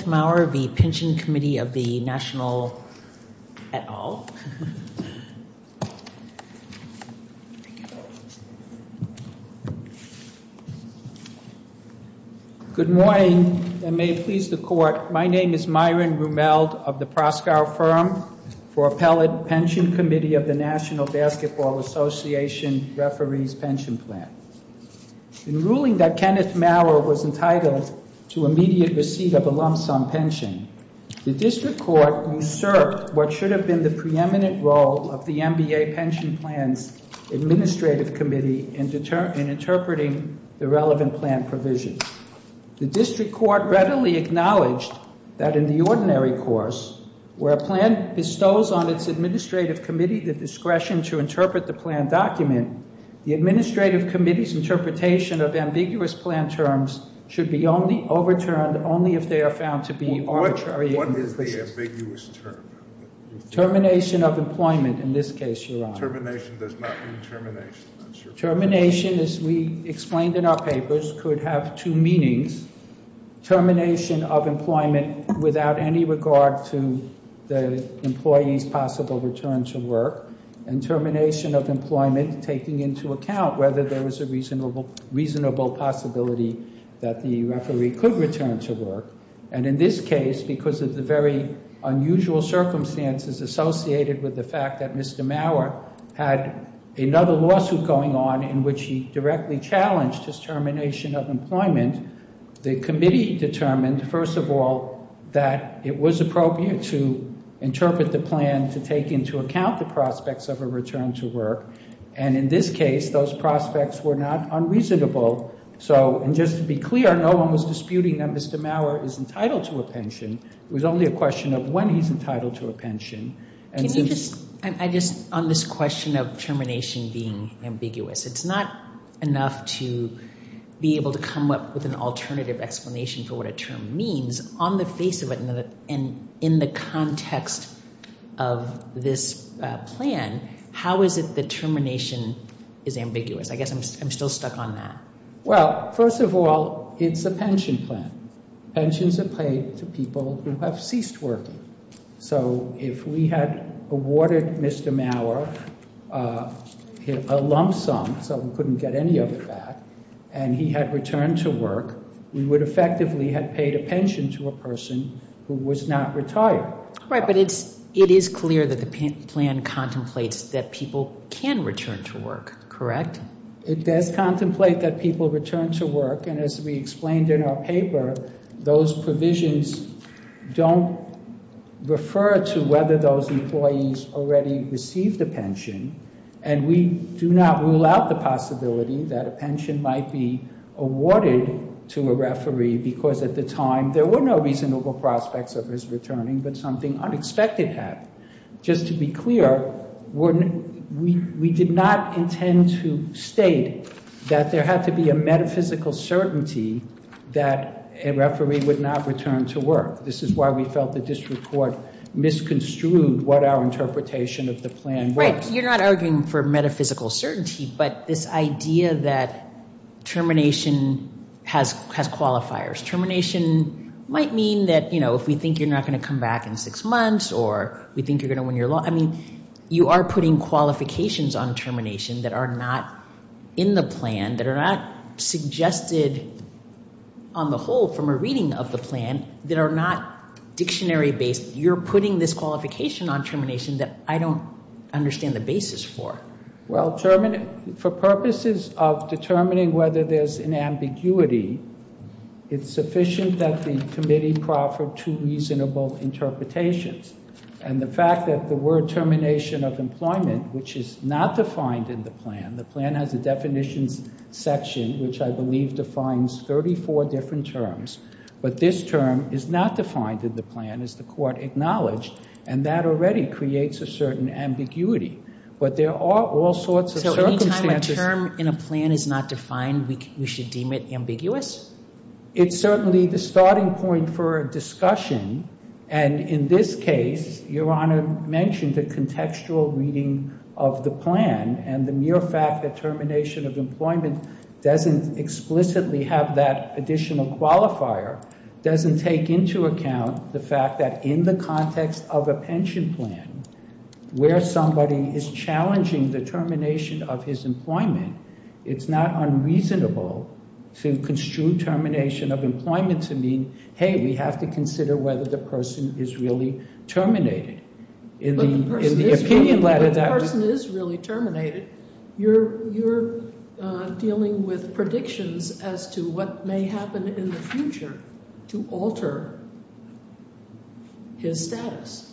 Kenneth Mauer v. Pension Committee of the National, et al. Good morning and may it please the court, my name is Myron Rumeld of the Proscar Firm for Appellate Pension Committee of the National Basketball Association Referees Pension Plan. In ruling that Kenneth Mauer was entitled to immediate receipt of a lump sum pension, the district court usurped what should have been the preeminent role of the NBA Pension Plan's administrative committee in interpreting the relevant plan provisions. The district court readily acknowledged that in the ordinary course, where a plan bestows on its administrative committee the discretion to interpret the plan document, the administrative committee's interpretation of ambiguous plan terms should be overturned only if they are found to be arbitrary. What is the ambiguous term? Termination of employment, in this case, Your Honor. Termination does not mean termination. Termination, as we explained in our papers, could have two meanings. Termination of employment without any regard to the employee's possible return to work, and termination of employment taking into account whether there was a reasonable possibility that the referee could return to work. And in this case, because of the very unusual circumstances associated with the fact that Mr. Mauer had another lawsuit going on in which he directly challenged his termination of employment, the committee determined, first of all, that it was appropriate to interpret the plan to take into account the prospects of a return to work. And in this case, those prospects were not unreasonable. So, and just to be clear, no one was disputing that Mr. Mauer is entitled to a pension. It was only a question of when he's entitled to a pension. I just, on this question of termination being ambiguous, it's not enough to be able to come up with an alternative explanation for what a term means. On the face of it, and in the context of this plan, how is it that termination is ambiguous? I guess I'm still stuck on that. Well, first of all, it's a pension plan. Pensions are paid to people who have ceased working. So, if we had awarded Mr. Mauer a lump sum, so we couldn't get any of it back, and he had returned to work, we would effectively have paid a pension to a person who was not retired. Right, but it's, it is clear that the plan contemplates that people can return to work, correct? It does contemplate that people return to work, and as we explained in our paper, those provisions don't refer to whether those employees already received a pension, and we do not rule out the possibility that a pension might be awarded to a referee, because at the time there were no reasonable prospects of his returning, but something unexpected happened. Just to be clear, we did not intend to state that there had to be a metaphysical certainty that a referee would not return to work. This is why we felt the district court misconstrued what our interpretation of the plan was. Right, you're not arguing for metaphysical certainty, but this idea that termination has qualifiers. Termination might mean that, you know, if we think you're not going to come back in six months, or we think you're going to win your law, I mean, you are putting qualifications on termination that are not in the plan, that are not suggested on the whole from a reading of the plan, that are not dictionary-based. You're putting this qualification on termination that I don't understand the basis for. Well, for purposes of determining whether there's an ambiguity, it's sufficient that the committee proffer two reasonable interpretations, and the fact that the word termination of employment, which is not defined in the plan, the plan has a definitions section, which I believe defines 34 different terms, but this term is not defined in the plan as the court acknowledged, and that already creates a certain ambiguity, but there are all sorts of circumstances. So any time a term in a plan is not defined, we should deem it ambiguous? It's certainly the starting point for a discussion, and in this case, your honor mentioned the contextual reading of the plan, and the mere fact that termination of employment doesn't explicitly have that additional qualifier doesn't take into account the fact that in the context of a pension plan, where somebody is challenging the termination of his employment, it's not unreasonable to construe termination of employment to mean, hey, we have to consider whether the person is really terminated. But the person is really terminated. You're dealing with predictions as to what may happen in the future to alter his status.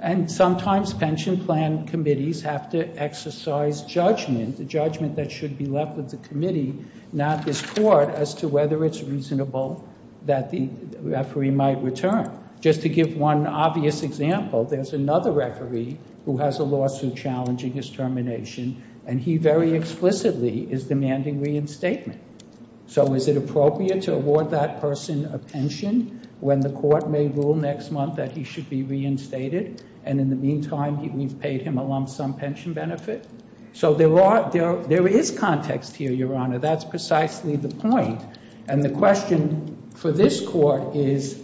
And sometimes pension plan committees have to exercise judgment, the judgment that should be left with the committee, not this court, as to whether it's that the referee might return. Just to give one obvious example, there's another referee who has a lawsuit challenging his termination, and he very explicitly is demanding reinstatement. So is it appropriate to award that person a pension when the court may rule next month that he should be reinstated, and in the meantime, we've paid him a lump sum pension benefit? So there is context here, Your Honor. That's precisely the point. And the question for this court is,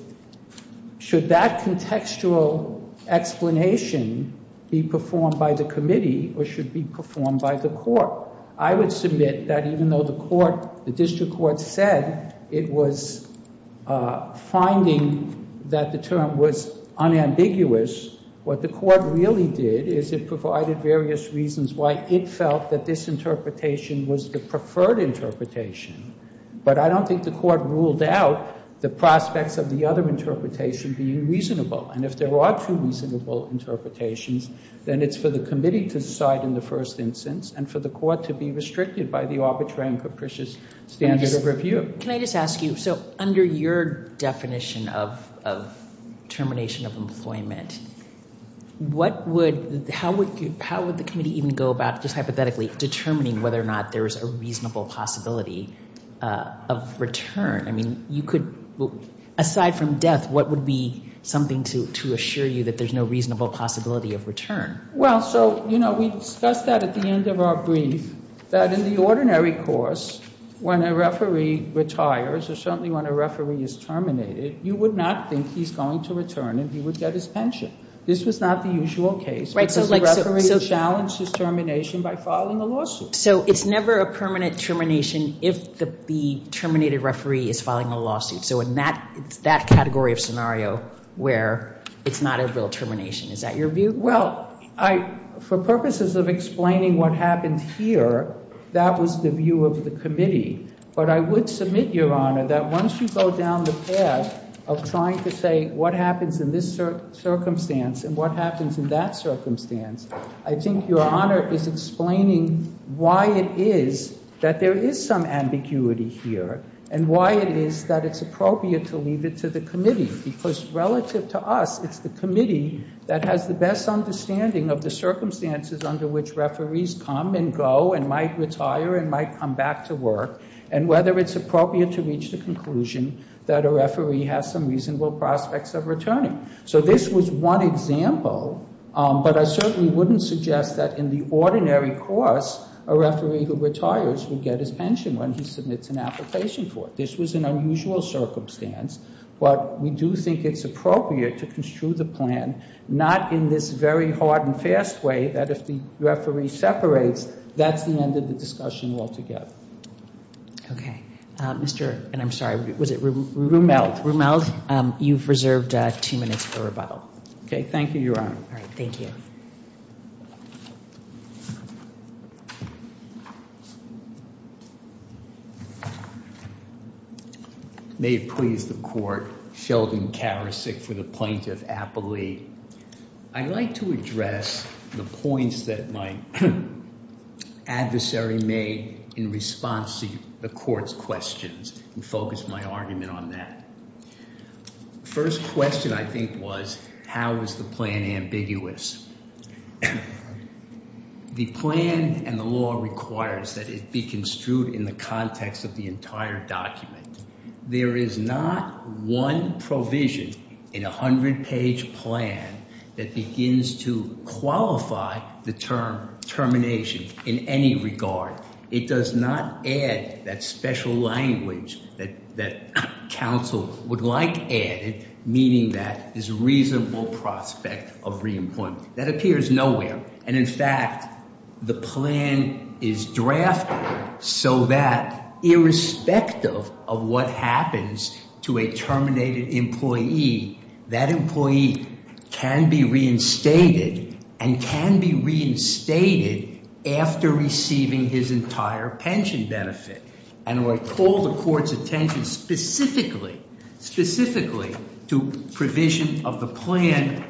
should that contextual explanation be performed by the committee or should be performed by the court? I would submit that even though the court, the district court said it was finding that the term was unambiguous, what the court really did is it provided various reasons why it felt that this interpretation was the preferred interpretation. But I don't think the court ruled out the prospects of the other interpretation being reasonable. And if there are two reasonable interpretations, then it's for the committee to decide in the first instance and for the court to be restricted by the arbitrary and capricious standard of review. Can I just ask you, so under your definition of termination of employment, how would the committee even go about just hypothetically determining whether or not there is a reasonable possibility of return? I mean, you could, aside from death, what would be something to assure you that there's no reasonable possibility of return? Well, so, you know, we discussed that at the end of our brief, that in the ordinary course, when a referee retires or certainly when a referee is terminated, you would not think he's going to return and he would get his pension. This was not the usual case because the referee challenged his termination by filing a lawsuit. So it's never a permanent termination if the terminated referee is filing a lawsuit. So in that, it's that category of scenario where it's not a real termination. Is that your view? Well, I, for purposes of explaining what happened here, that was the view of the committee. But I would submit, Your Honor, that once you go down the path of trying to say what happens in this circumstance and what happens in that circumstance, I think Your Honor is explaining why it is that there is some ambiguity here and why it is that it's appropriate to leave it to the committee because relative to us, it's the committee that has the best understanding of the circumstances under which referees come and go and might retire and might come back to work and whether it's appropriate to reach the conclusion that a referee has some reasonable prospects of returning. So this was one example, but I certainly wouldn't suggest that in the ordinary course, a referee who retires would get his pension when he submits an application for it. This was an unusual circumstance, but we do think it's appropriate to construe the plan not in this very hard and fast way that if the referee separates, that's the end of the discussion altogether. Okay, Mr. and I'm sorry, was it Rumeld? Rumeld, you've reserved two minutes for rebuttal. Okay, thank you, Your Honor. All right, thank you. May it please the Court, Sheldon Karasik for the Plaintiff Appellee. I'd like to address the points that my adversary made in response to the Court's questions and focus my argument on that. First question, I think, was how is the plan ambiguous? The plan and the law requires that it be construed in the context of the entire document. There is not one provision in a 100-page plan that begins to qualify the term termination in any regard. It does not add that special language that counsel would like added, meaning that there's reasonable prospect of reemployment. That appears nowhere, and in fact, the plan is drafted so that irrespective of what happens to a terminated employee, that employee can be reinstated and can be reinstated after receiving his entire pension benefit. And I call the Court's attention specifically to provision of the plan,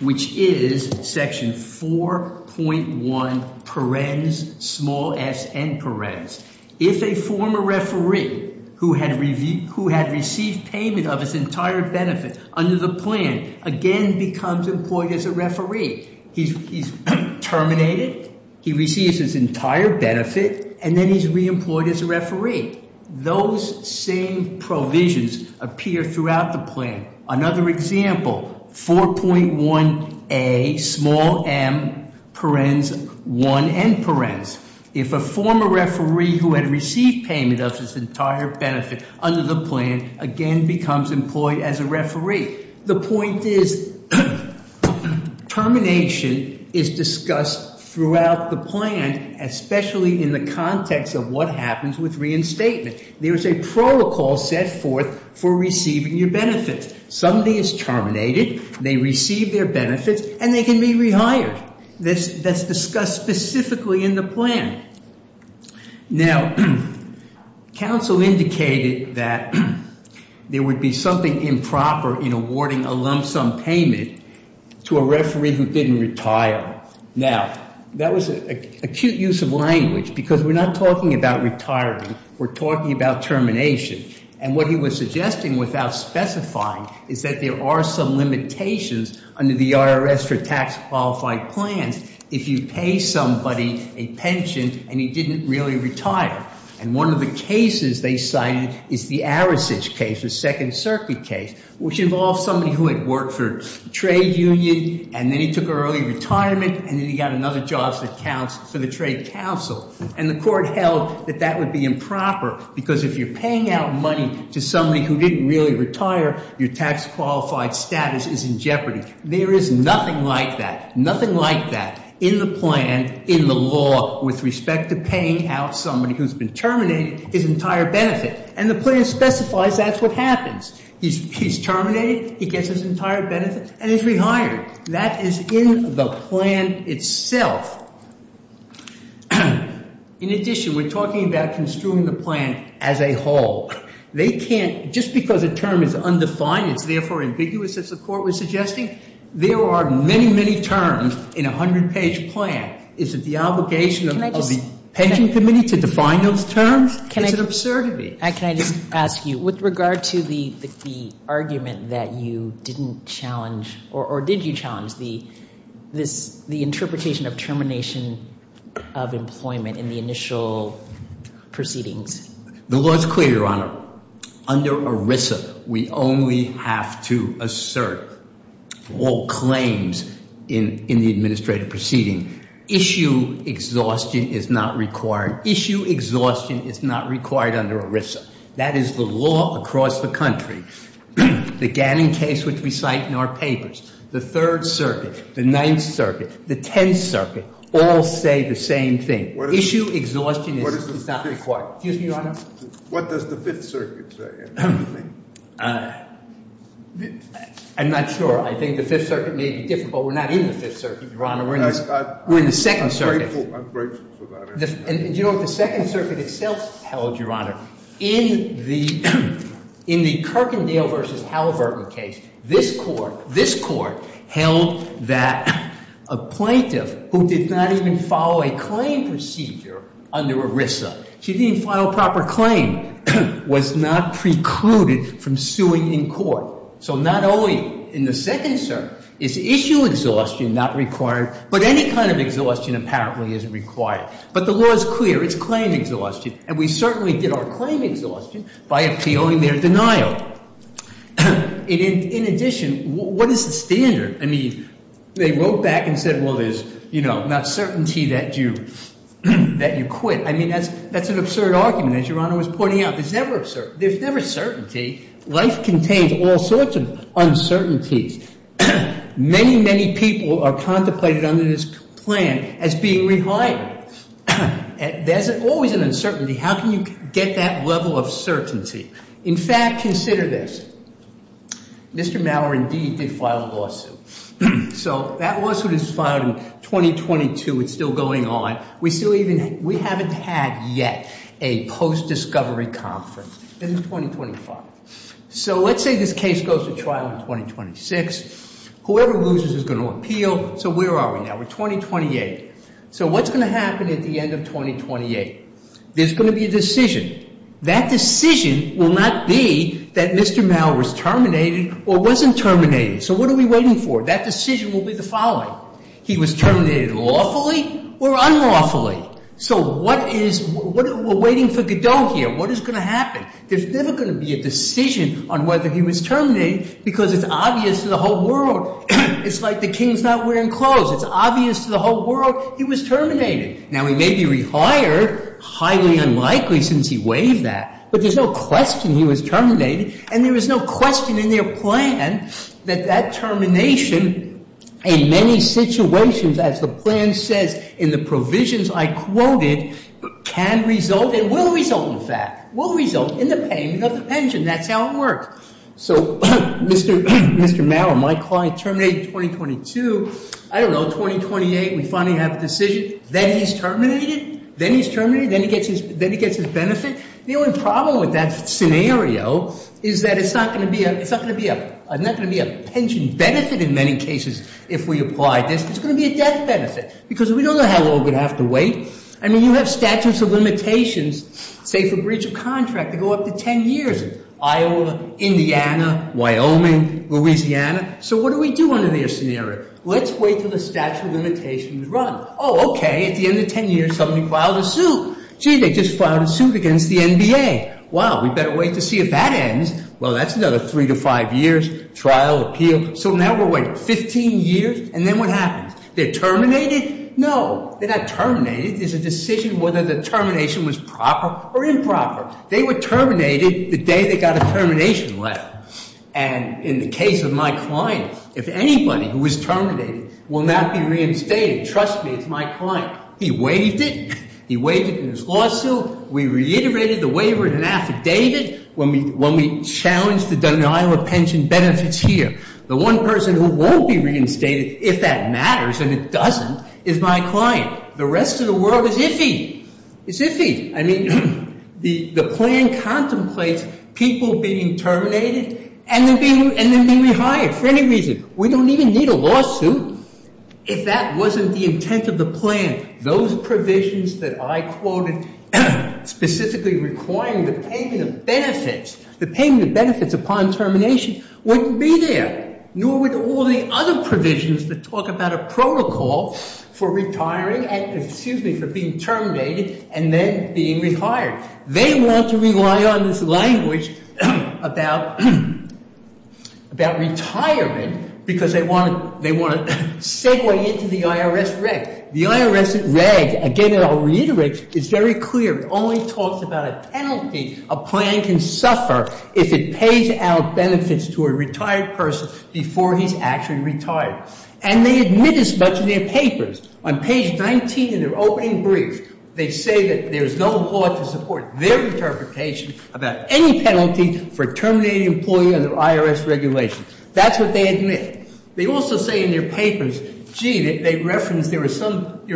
which is section 4.1 parens, small s, and parens. If a former referee who had received payment of his entire benefit under the plan again becomes employed as a referee, he's terminated, he receives his entire benefit, and then he's reemployed as a referee. Those same provisions appear throughout the plan. Another example, 4.1a, small m, parens, 1, and parens. If a former referee who had received payment of his entire benefit under the plan again becomes employed as a referee, the point is termination is discussed throughout the plan, especially in the context of what happens with reinstatement. There's a protocol set forth for receiving your benefits. Somebody is terminated, they receive their benefits, and they can be rehired. That's something improper in awarding a lump sum payment to a referee who didn't retire. Now, that was an acute use of language because we're not talking about retirement, we're talking about termination. And what he was suggesting without specifying is that there are some limitations under the IRS for tax qualified plans if you pay somebody a pension and he didn't really retire. And one of the cases they cited is the Arasage case, the Second Circuit case, which involved somebody who had worked for a trade union, and then he took early retirement, and then he got another job that counts for the trade council. And the court held that that would be improper because if you're paying out money to somebody who didn't really retire, your tax qualified status is in jeopardy. There is nothing like that, nothing like that in the plan, in the law with respect to paying out somebody who's been terminated his entire benefit. And the plan specifies that's what happens. He's terminated, he gets his entire benefit, and he's rehired. That is in the plan itself. In addition, we're talking about construing the plan as a whole. They can't, just because a term is undefined, it's therefore ambiguous as the court was suggesting, there are many, many terms in a 100-page plan. Is it the obligation of the Pension Committee to define those terms? It's an absurdity. Can I just ask you, with regard to the argument that you didn't challenge, or did you challenge the interpretation of termination of employment in the initial proceedings? The law is clear, Your Honor. Under ERISA, we only have to assert all claims in the administrative proceeding. Issue exhaustion is not required. Issue exhaustion is not required under ERISA. That is the law across the country. The Gannon case, which we cite in our papers, the Third Circuit, the Ninth Circuit, the Tenth Circuit, all say the same thing. Issue exhaustion is not required. Excuse me, Your Honor? What does the Fifth Circuit say? I'm not sure. I think the Fifth Circuit may be different, but we're not in the Fifth Circuit, Your Honor. We're in the Second Circuit. I'm grateful for that answer. Do you know what the Second Circuit itself held, Your Honor? In the Kirkendale v. Halliburton case, this Court held that a plaintiff who did not even follow a claim procedure under ERISA to even file a proper claim was not precluded from suing in court. So not only in the Second Circuit is issue exhaustion not required, but any kind of exhaustion apparently is required. But the law is clear. It's claim exhaustion. And we certainly did our claim exhaustion by appealing their denial. In addition, what is the standard? I mean, they wrote back and said, well, there's not certainty that you quit. I mean, that's an absurd argument, as Your Honor was pointing out. There's never certainty. Life contains all sorts of uncertainties. Many, many people are contemplated under this plan as being reliable. There's always an uncertainty. How can you get that level of certainty? In fact, consider this. Mr. Mauer, indeed, did file a lawsuit. So that lawsuit is filed in 2022. It's still going on. We still even we haven't had yet a post-discovery conference. It is 2025. So let's say this case goes to trial in 2026. Whoever loses is going to appeal. So where are we now? We're 2028. So what's going to happen at the end of 2028? There's going to be a decision. That decision will not be that Mr. Mauer was terminated or wasn't terminated. So what are we waiting for? That decision will be the following. He was terminated lawfully or unlawfully. So what is, we're waiting for Godot here. What is going to happen? There's never going to be a decision on whether he was terminated because it's obvious to the whole world. It's like the king's not wearing clothes. It's obvious to the whole world he was terminated. Now, he may be rehired, highly unlikely since he waived that, but there's no question he was terminated and there was no question in their plan that that termination in many situations, as the plan says in the provisions I quoted, can result and will result, in fact, will result in the payment of the pension. That's how it works. So Mr. Mauer, my client, terminated in 2022. I don't know, 2028, we finally have a decision. Then he's terminated. Then he's terminated. Then he gets his benefit. The only problem with that scenario is that it's not going to be a pension benefit in many cases, if we apply this. It's going to be a death benefit because we don't know how long we'd have to wait. I mean, you have statutes of limitations, say for breach of contract to go up to 10 years, Iowa, Indiana, Wyoming, Louisiana. So what do we do under this scenario? Let's wait for the statute of limitations to run. Oh, okay, at the end of 10 years, somebody filed a suit. Gee, they just filed a suit against the NBA. Wow, we better wait to see if that ends. Well, that's another three to five years, trial, appeal. So now we're waiting 15 years and then what happens? They're terminated? No, they're not terminated. There's a decision whether the termination was proper or improper. They were terminated the day they got a termination letter. And in the case of my client, if anybody who was terminated will not be reinstated, trust me, it's my client. He waived it. He waived it in his lawsuit. We reiterated the waiver in an affidavit when we challenged the denial of pension benefits here. The one person who won't be reinstated, if that matters and it doesn't, is my client. The rest of the world is iffy. It's iffy. I mean, the plan contemplates people being terminated and then being rehired for any reason. We don't even need a lawsuit if that wasn't the intent of the plan. Those provisions that I quoted specifically requiring the payment of benefits, the payment of benefits upon termination wouldn't be there, nor would all the other provisions that talk about a protocol for retiring for being terminated and then being rehired. They want to rely on this language about retirement because they want to segue into the IRS reg. The IRS reg, again, I'll reiterate, is very clear. It only talks about a penalty a plan can suffer if it pays out benefits to a before he's actually retired. And they admit as much in their papers. On page 19 in their opening brief, they say that there's no law to support their interpretation about any penalty for terminating an employee under IRS regulation. That's what they admit. They also say in their papers, gee, they reference there are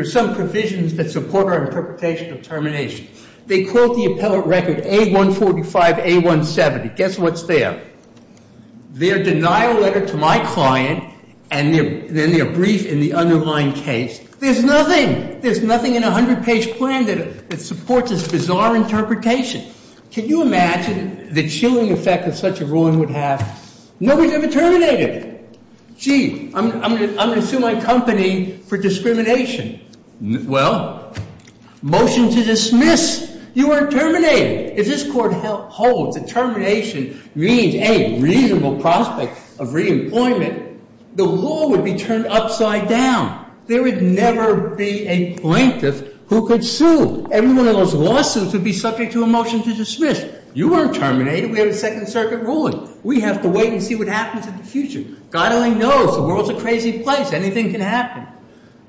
some provisions that support our interpretation of termination. They quote the appellate record A145, A170. Guess what's there? Their denial letter to my client and then their brief in the underlying case. There's nothing. There's nothing in a 100-page plan that supports this bizarre interpretation. Can you imagine the chilling effect that such a ruling would have? Nobody's ever terminated. Gee, I'm going to sue my for discrimination. Well, motion to dismiss. You weren't terminated. If this court holds that termination means a reasonable prospect of reemployment, the law would be turned upside down. There would never be a plaintiff who could sue. Every one of those lawsuits would be subject to a motion to dismiss. You weren't terminated. We have a Second Circuit ruling. We have to wait and see what happens in the future. God only knows. The world's a crazy place. Anything can happen.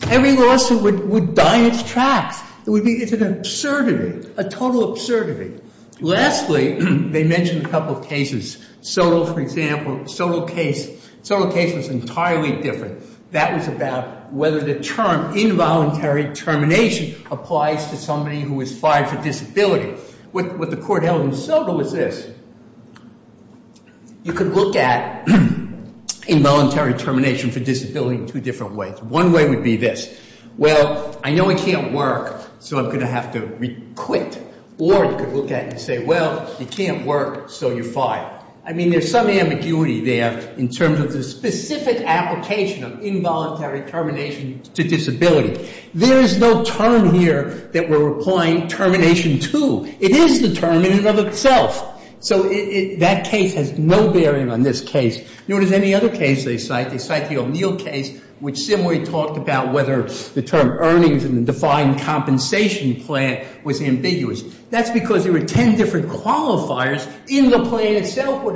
Every lawsuit would die in its tracks. It's an absurdity, a total absurdity. Lastly, they mention a couple of cases. Soto, for example, Soto case was entirely different. That was about whether the term involuntary termination applies to somebody who is fired for disability. What the court held in Soto was this. You could look at involuntary termination for disability in two different ways. One way would be this. Well, I know it can't work, so I'm going to have to quit. Or you could look at it and say, well, it can't work, so you're fired. I mean, there's some ambiguity there in terms of the specific application of involuntary termination to disability. There is no term here that we're applying termination to. It is the term in and of itself. So that case has no bearing on this case. Nor does any other case they cite. They cite the O'Neill case, which similarly talked about whether the term earnings in the defined compensation plan was ambiguous. That's because there were 10 different qualifiers in the plan itself what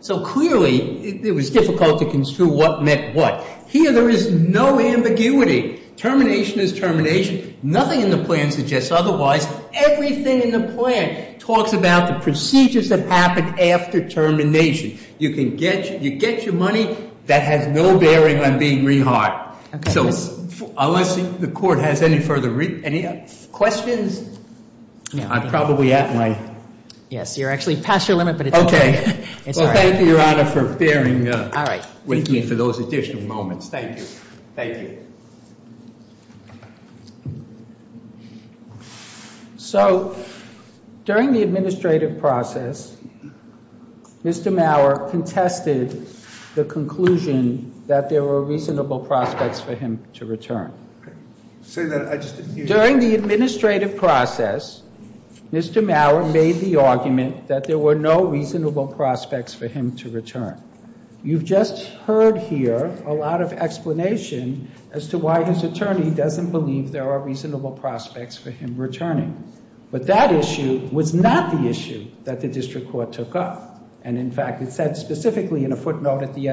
So clearly it was difficult to construe what meant what. Here there is no ambiguity. Termination is termination. Nothing in the plan suggests otherwise. Everything in the plan talks about the procedures that happen after termination. You get your money. That has no bearing on being rehired. So unless the court has any further questions, I'm probably at my... Yes, you're actually past your limit, but it's okay. Thank you, Your Honor, for bearing with me for those additional moments. Thank you. So during the administrative process, Mr. Maurer contested the conclusion that there were reasonable prospects for him to return. During the administrative process, Mr. Maurer made the argument that there were no reasonable prospects for him to return. You've just heard here a lot of explanation as to why his attorney doesn't believe there are reasonable prospects for him returning. But that issue was not the issue that the district court took up. And in fact, it said specifically in a footnote at the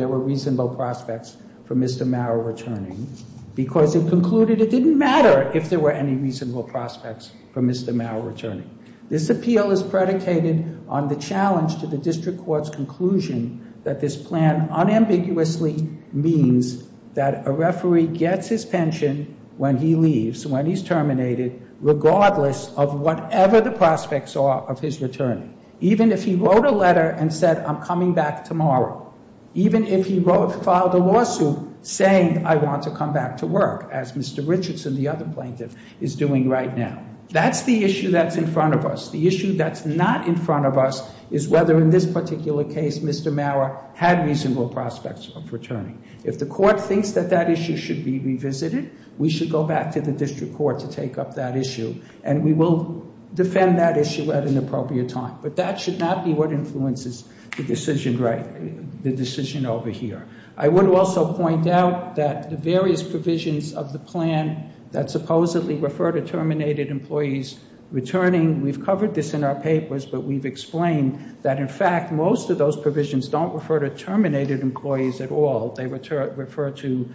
there were reasonable prospects for Mr. Maurer returning because it concluded it didn't matter if there were any reasonable prospects for Mr. Maurer returning. This appeal is predicated on the challenge to the district court's conclusion that this plan unambiguously means that a referee gets his pension when he leaves, when he's terminated, regardless of whatever the prospects are of his returning. Even if he wrote a letter and said, I'm coming back tomorrow. Even if he filed a lawsuit saying, I want to come back to work, as Mr. Richardson, the other plaintiff, is doing right now. That's the issue that's in front of us. The issue that's not in front of us is whether in this particular case, Mr. Maurer had reasonable prospects of returning. If the court thinks that that issue should be revisited, we should go back to the district court to take up that issue. And we will defend that issue at an appropriate time. But that should not be what influences the decision over here. I would also point out that the various provisions of the plan that supposedly refer to terminated employees returning, we've covered this in our papers, but we've explained that in fact, most of those provisions don't refer to terminated employees at all. They refer to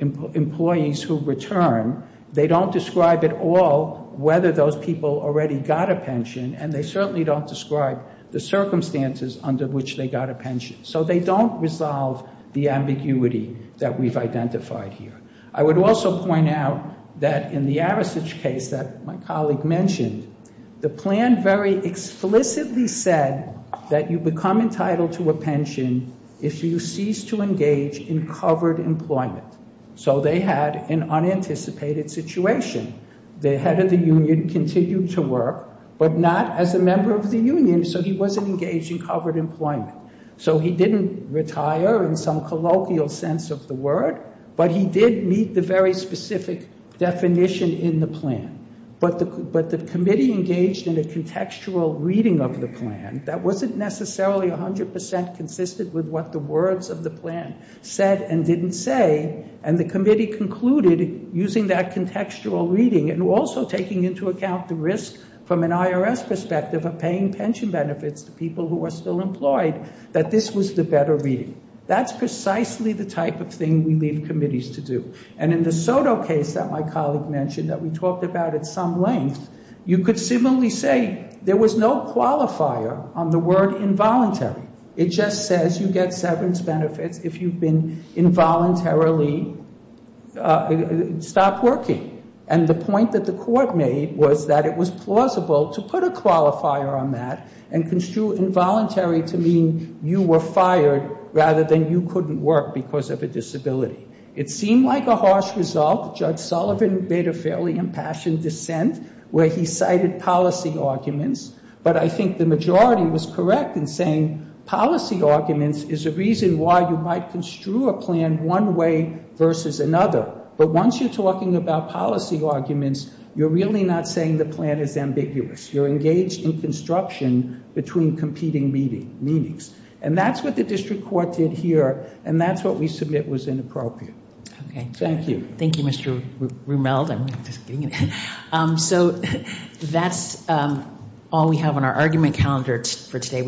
employees who return. They don't describe at all whether those people already got a pension and they certainly don't describe the circumstances under which they got a pension. So they don't resolve the ambiguity that we've identified here. I would also point out that in the Arasage case that my colleague mentioned, the plan very explicitly said that you become entitled to a pension if you cease to engage in covered employment. So they had an unanticipated situation. The head of the union continued to work, but not as a member of the union. So he wasn't engaged in covered employment. So he didn't retire in some colloquial sense of the word, but he did meet the very specific definition in the plan. But the committee engaged in a contextual reading of the plan that wasn't necessarily a hundred percent consistent with what the words of the plan said and didn't say. And the committee concluded using that contextual reading and also taking into account the risk from an IRS perspective of paying pension benefits to people who are still employed, that this was the better reading. That's precisely the type of thing we leave committees to do. And in the Soto case that my colleague mentioned that we talked about at some length, you could similarly say there was no qualifier on the word involuntary. It just says you get severance benefits if you've been involuntarily stopped working. And the point that the court made was that it was plausible to put a qualifier on that and construe involuntary to mean you were fired rather than you couldn't work because of a disability. It seemed like a harsh result. Judge Sullivan made a fairly impassioned dissent where he cited policy arguments, but I think the majority was correct in saying policy arguments is a reason why you might construe a plan one way versus another. But once you're talking about policy arguments, you're really not saying the plan is ambiguous. You're engaged in construction between competing meetings. And that's what the district court did here. And that's what we submit was inappropriate. Thank you. Thank you, Mr. Rumeld. So that's all we have on our argument calendar for today.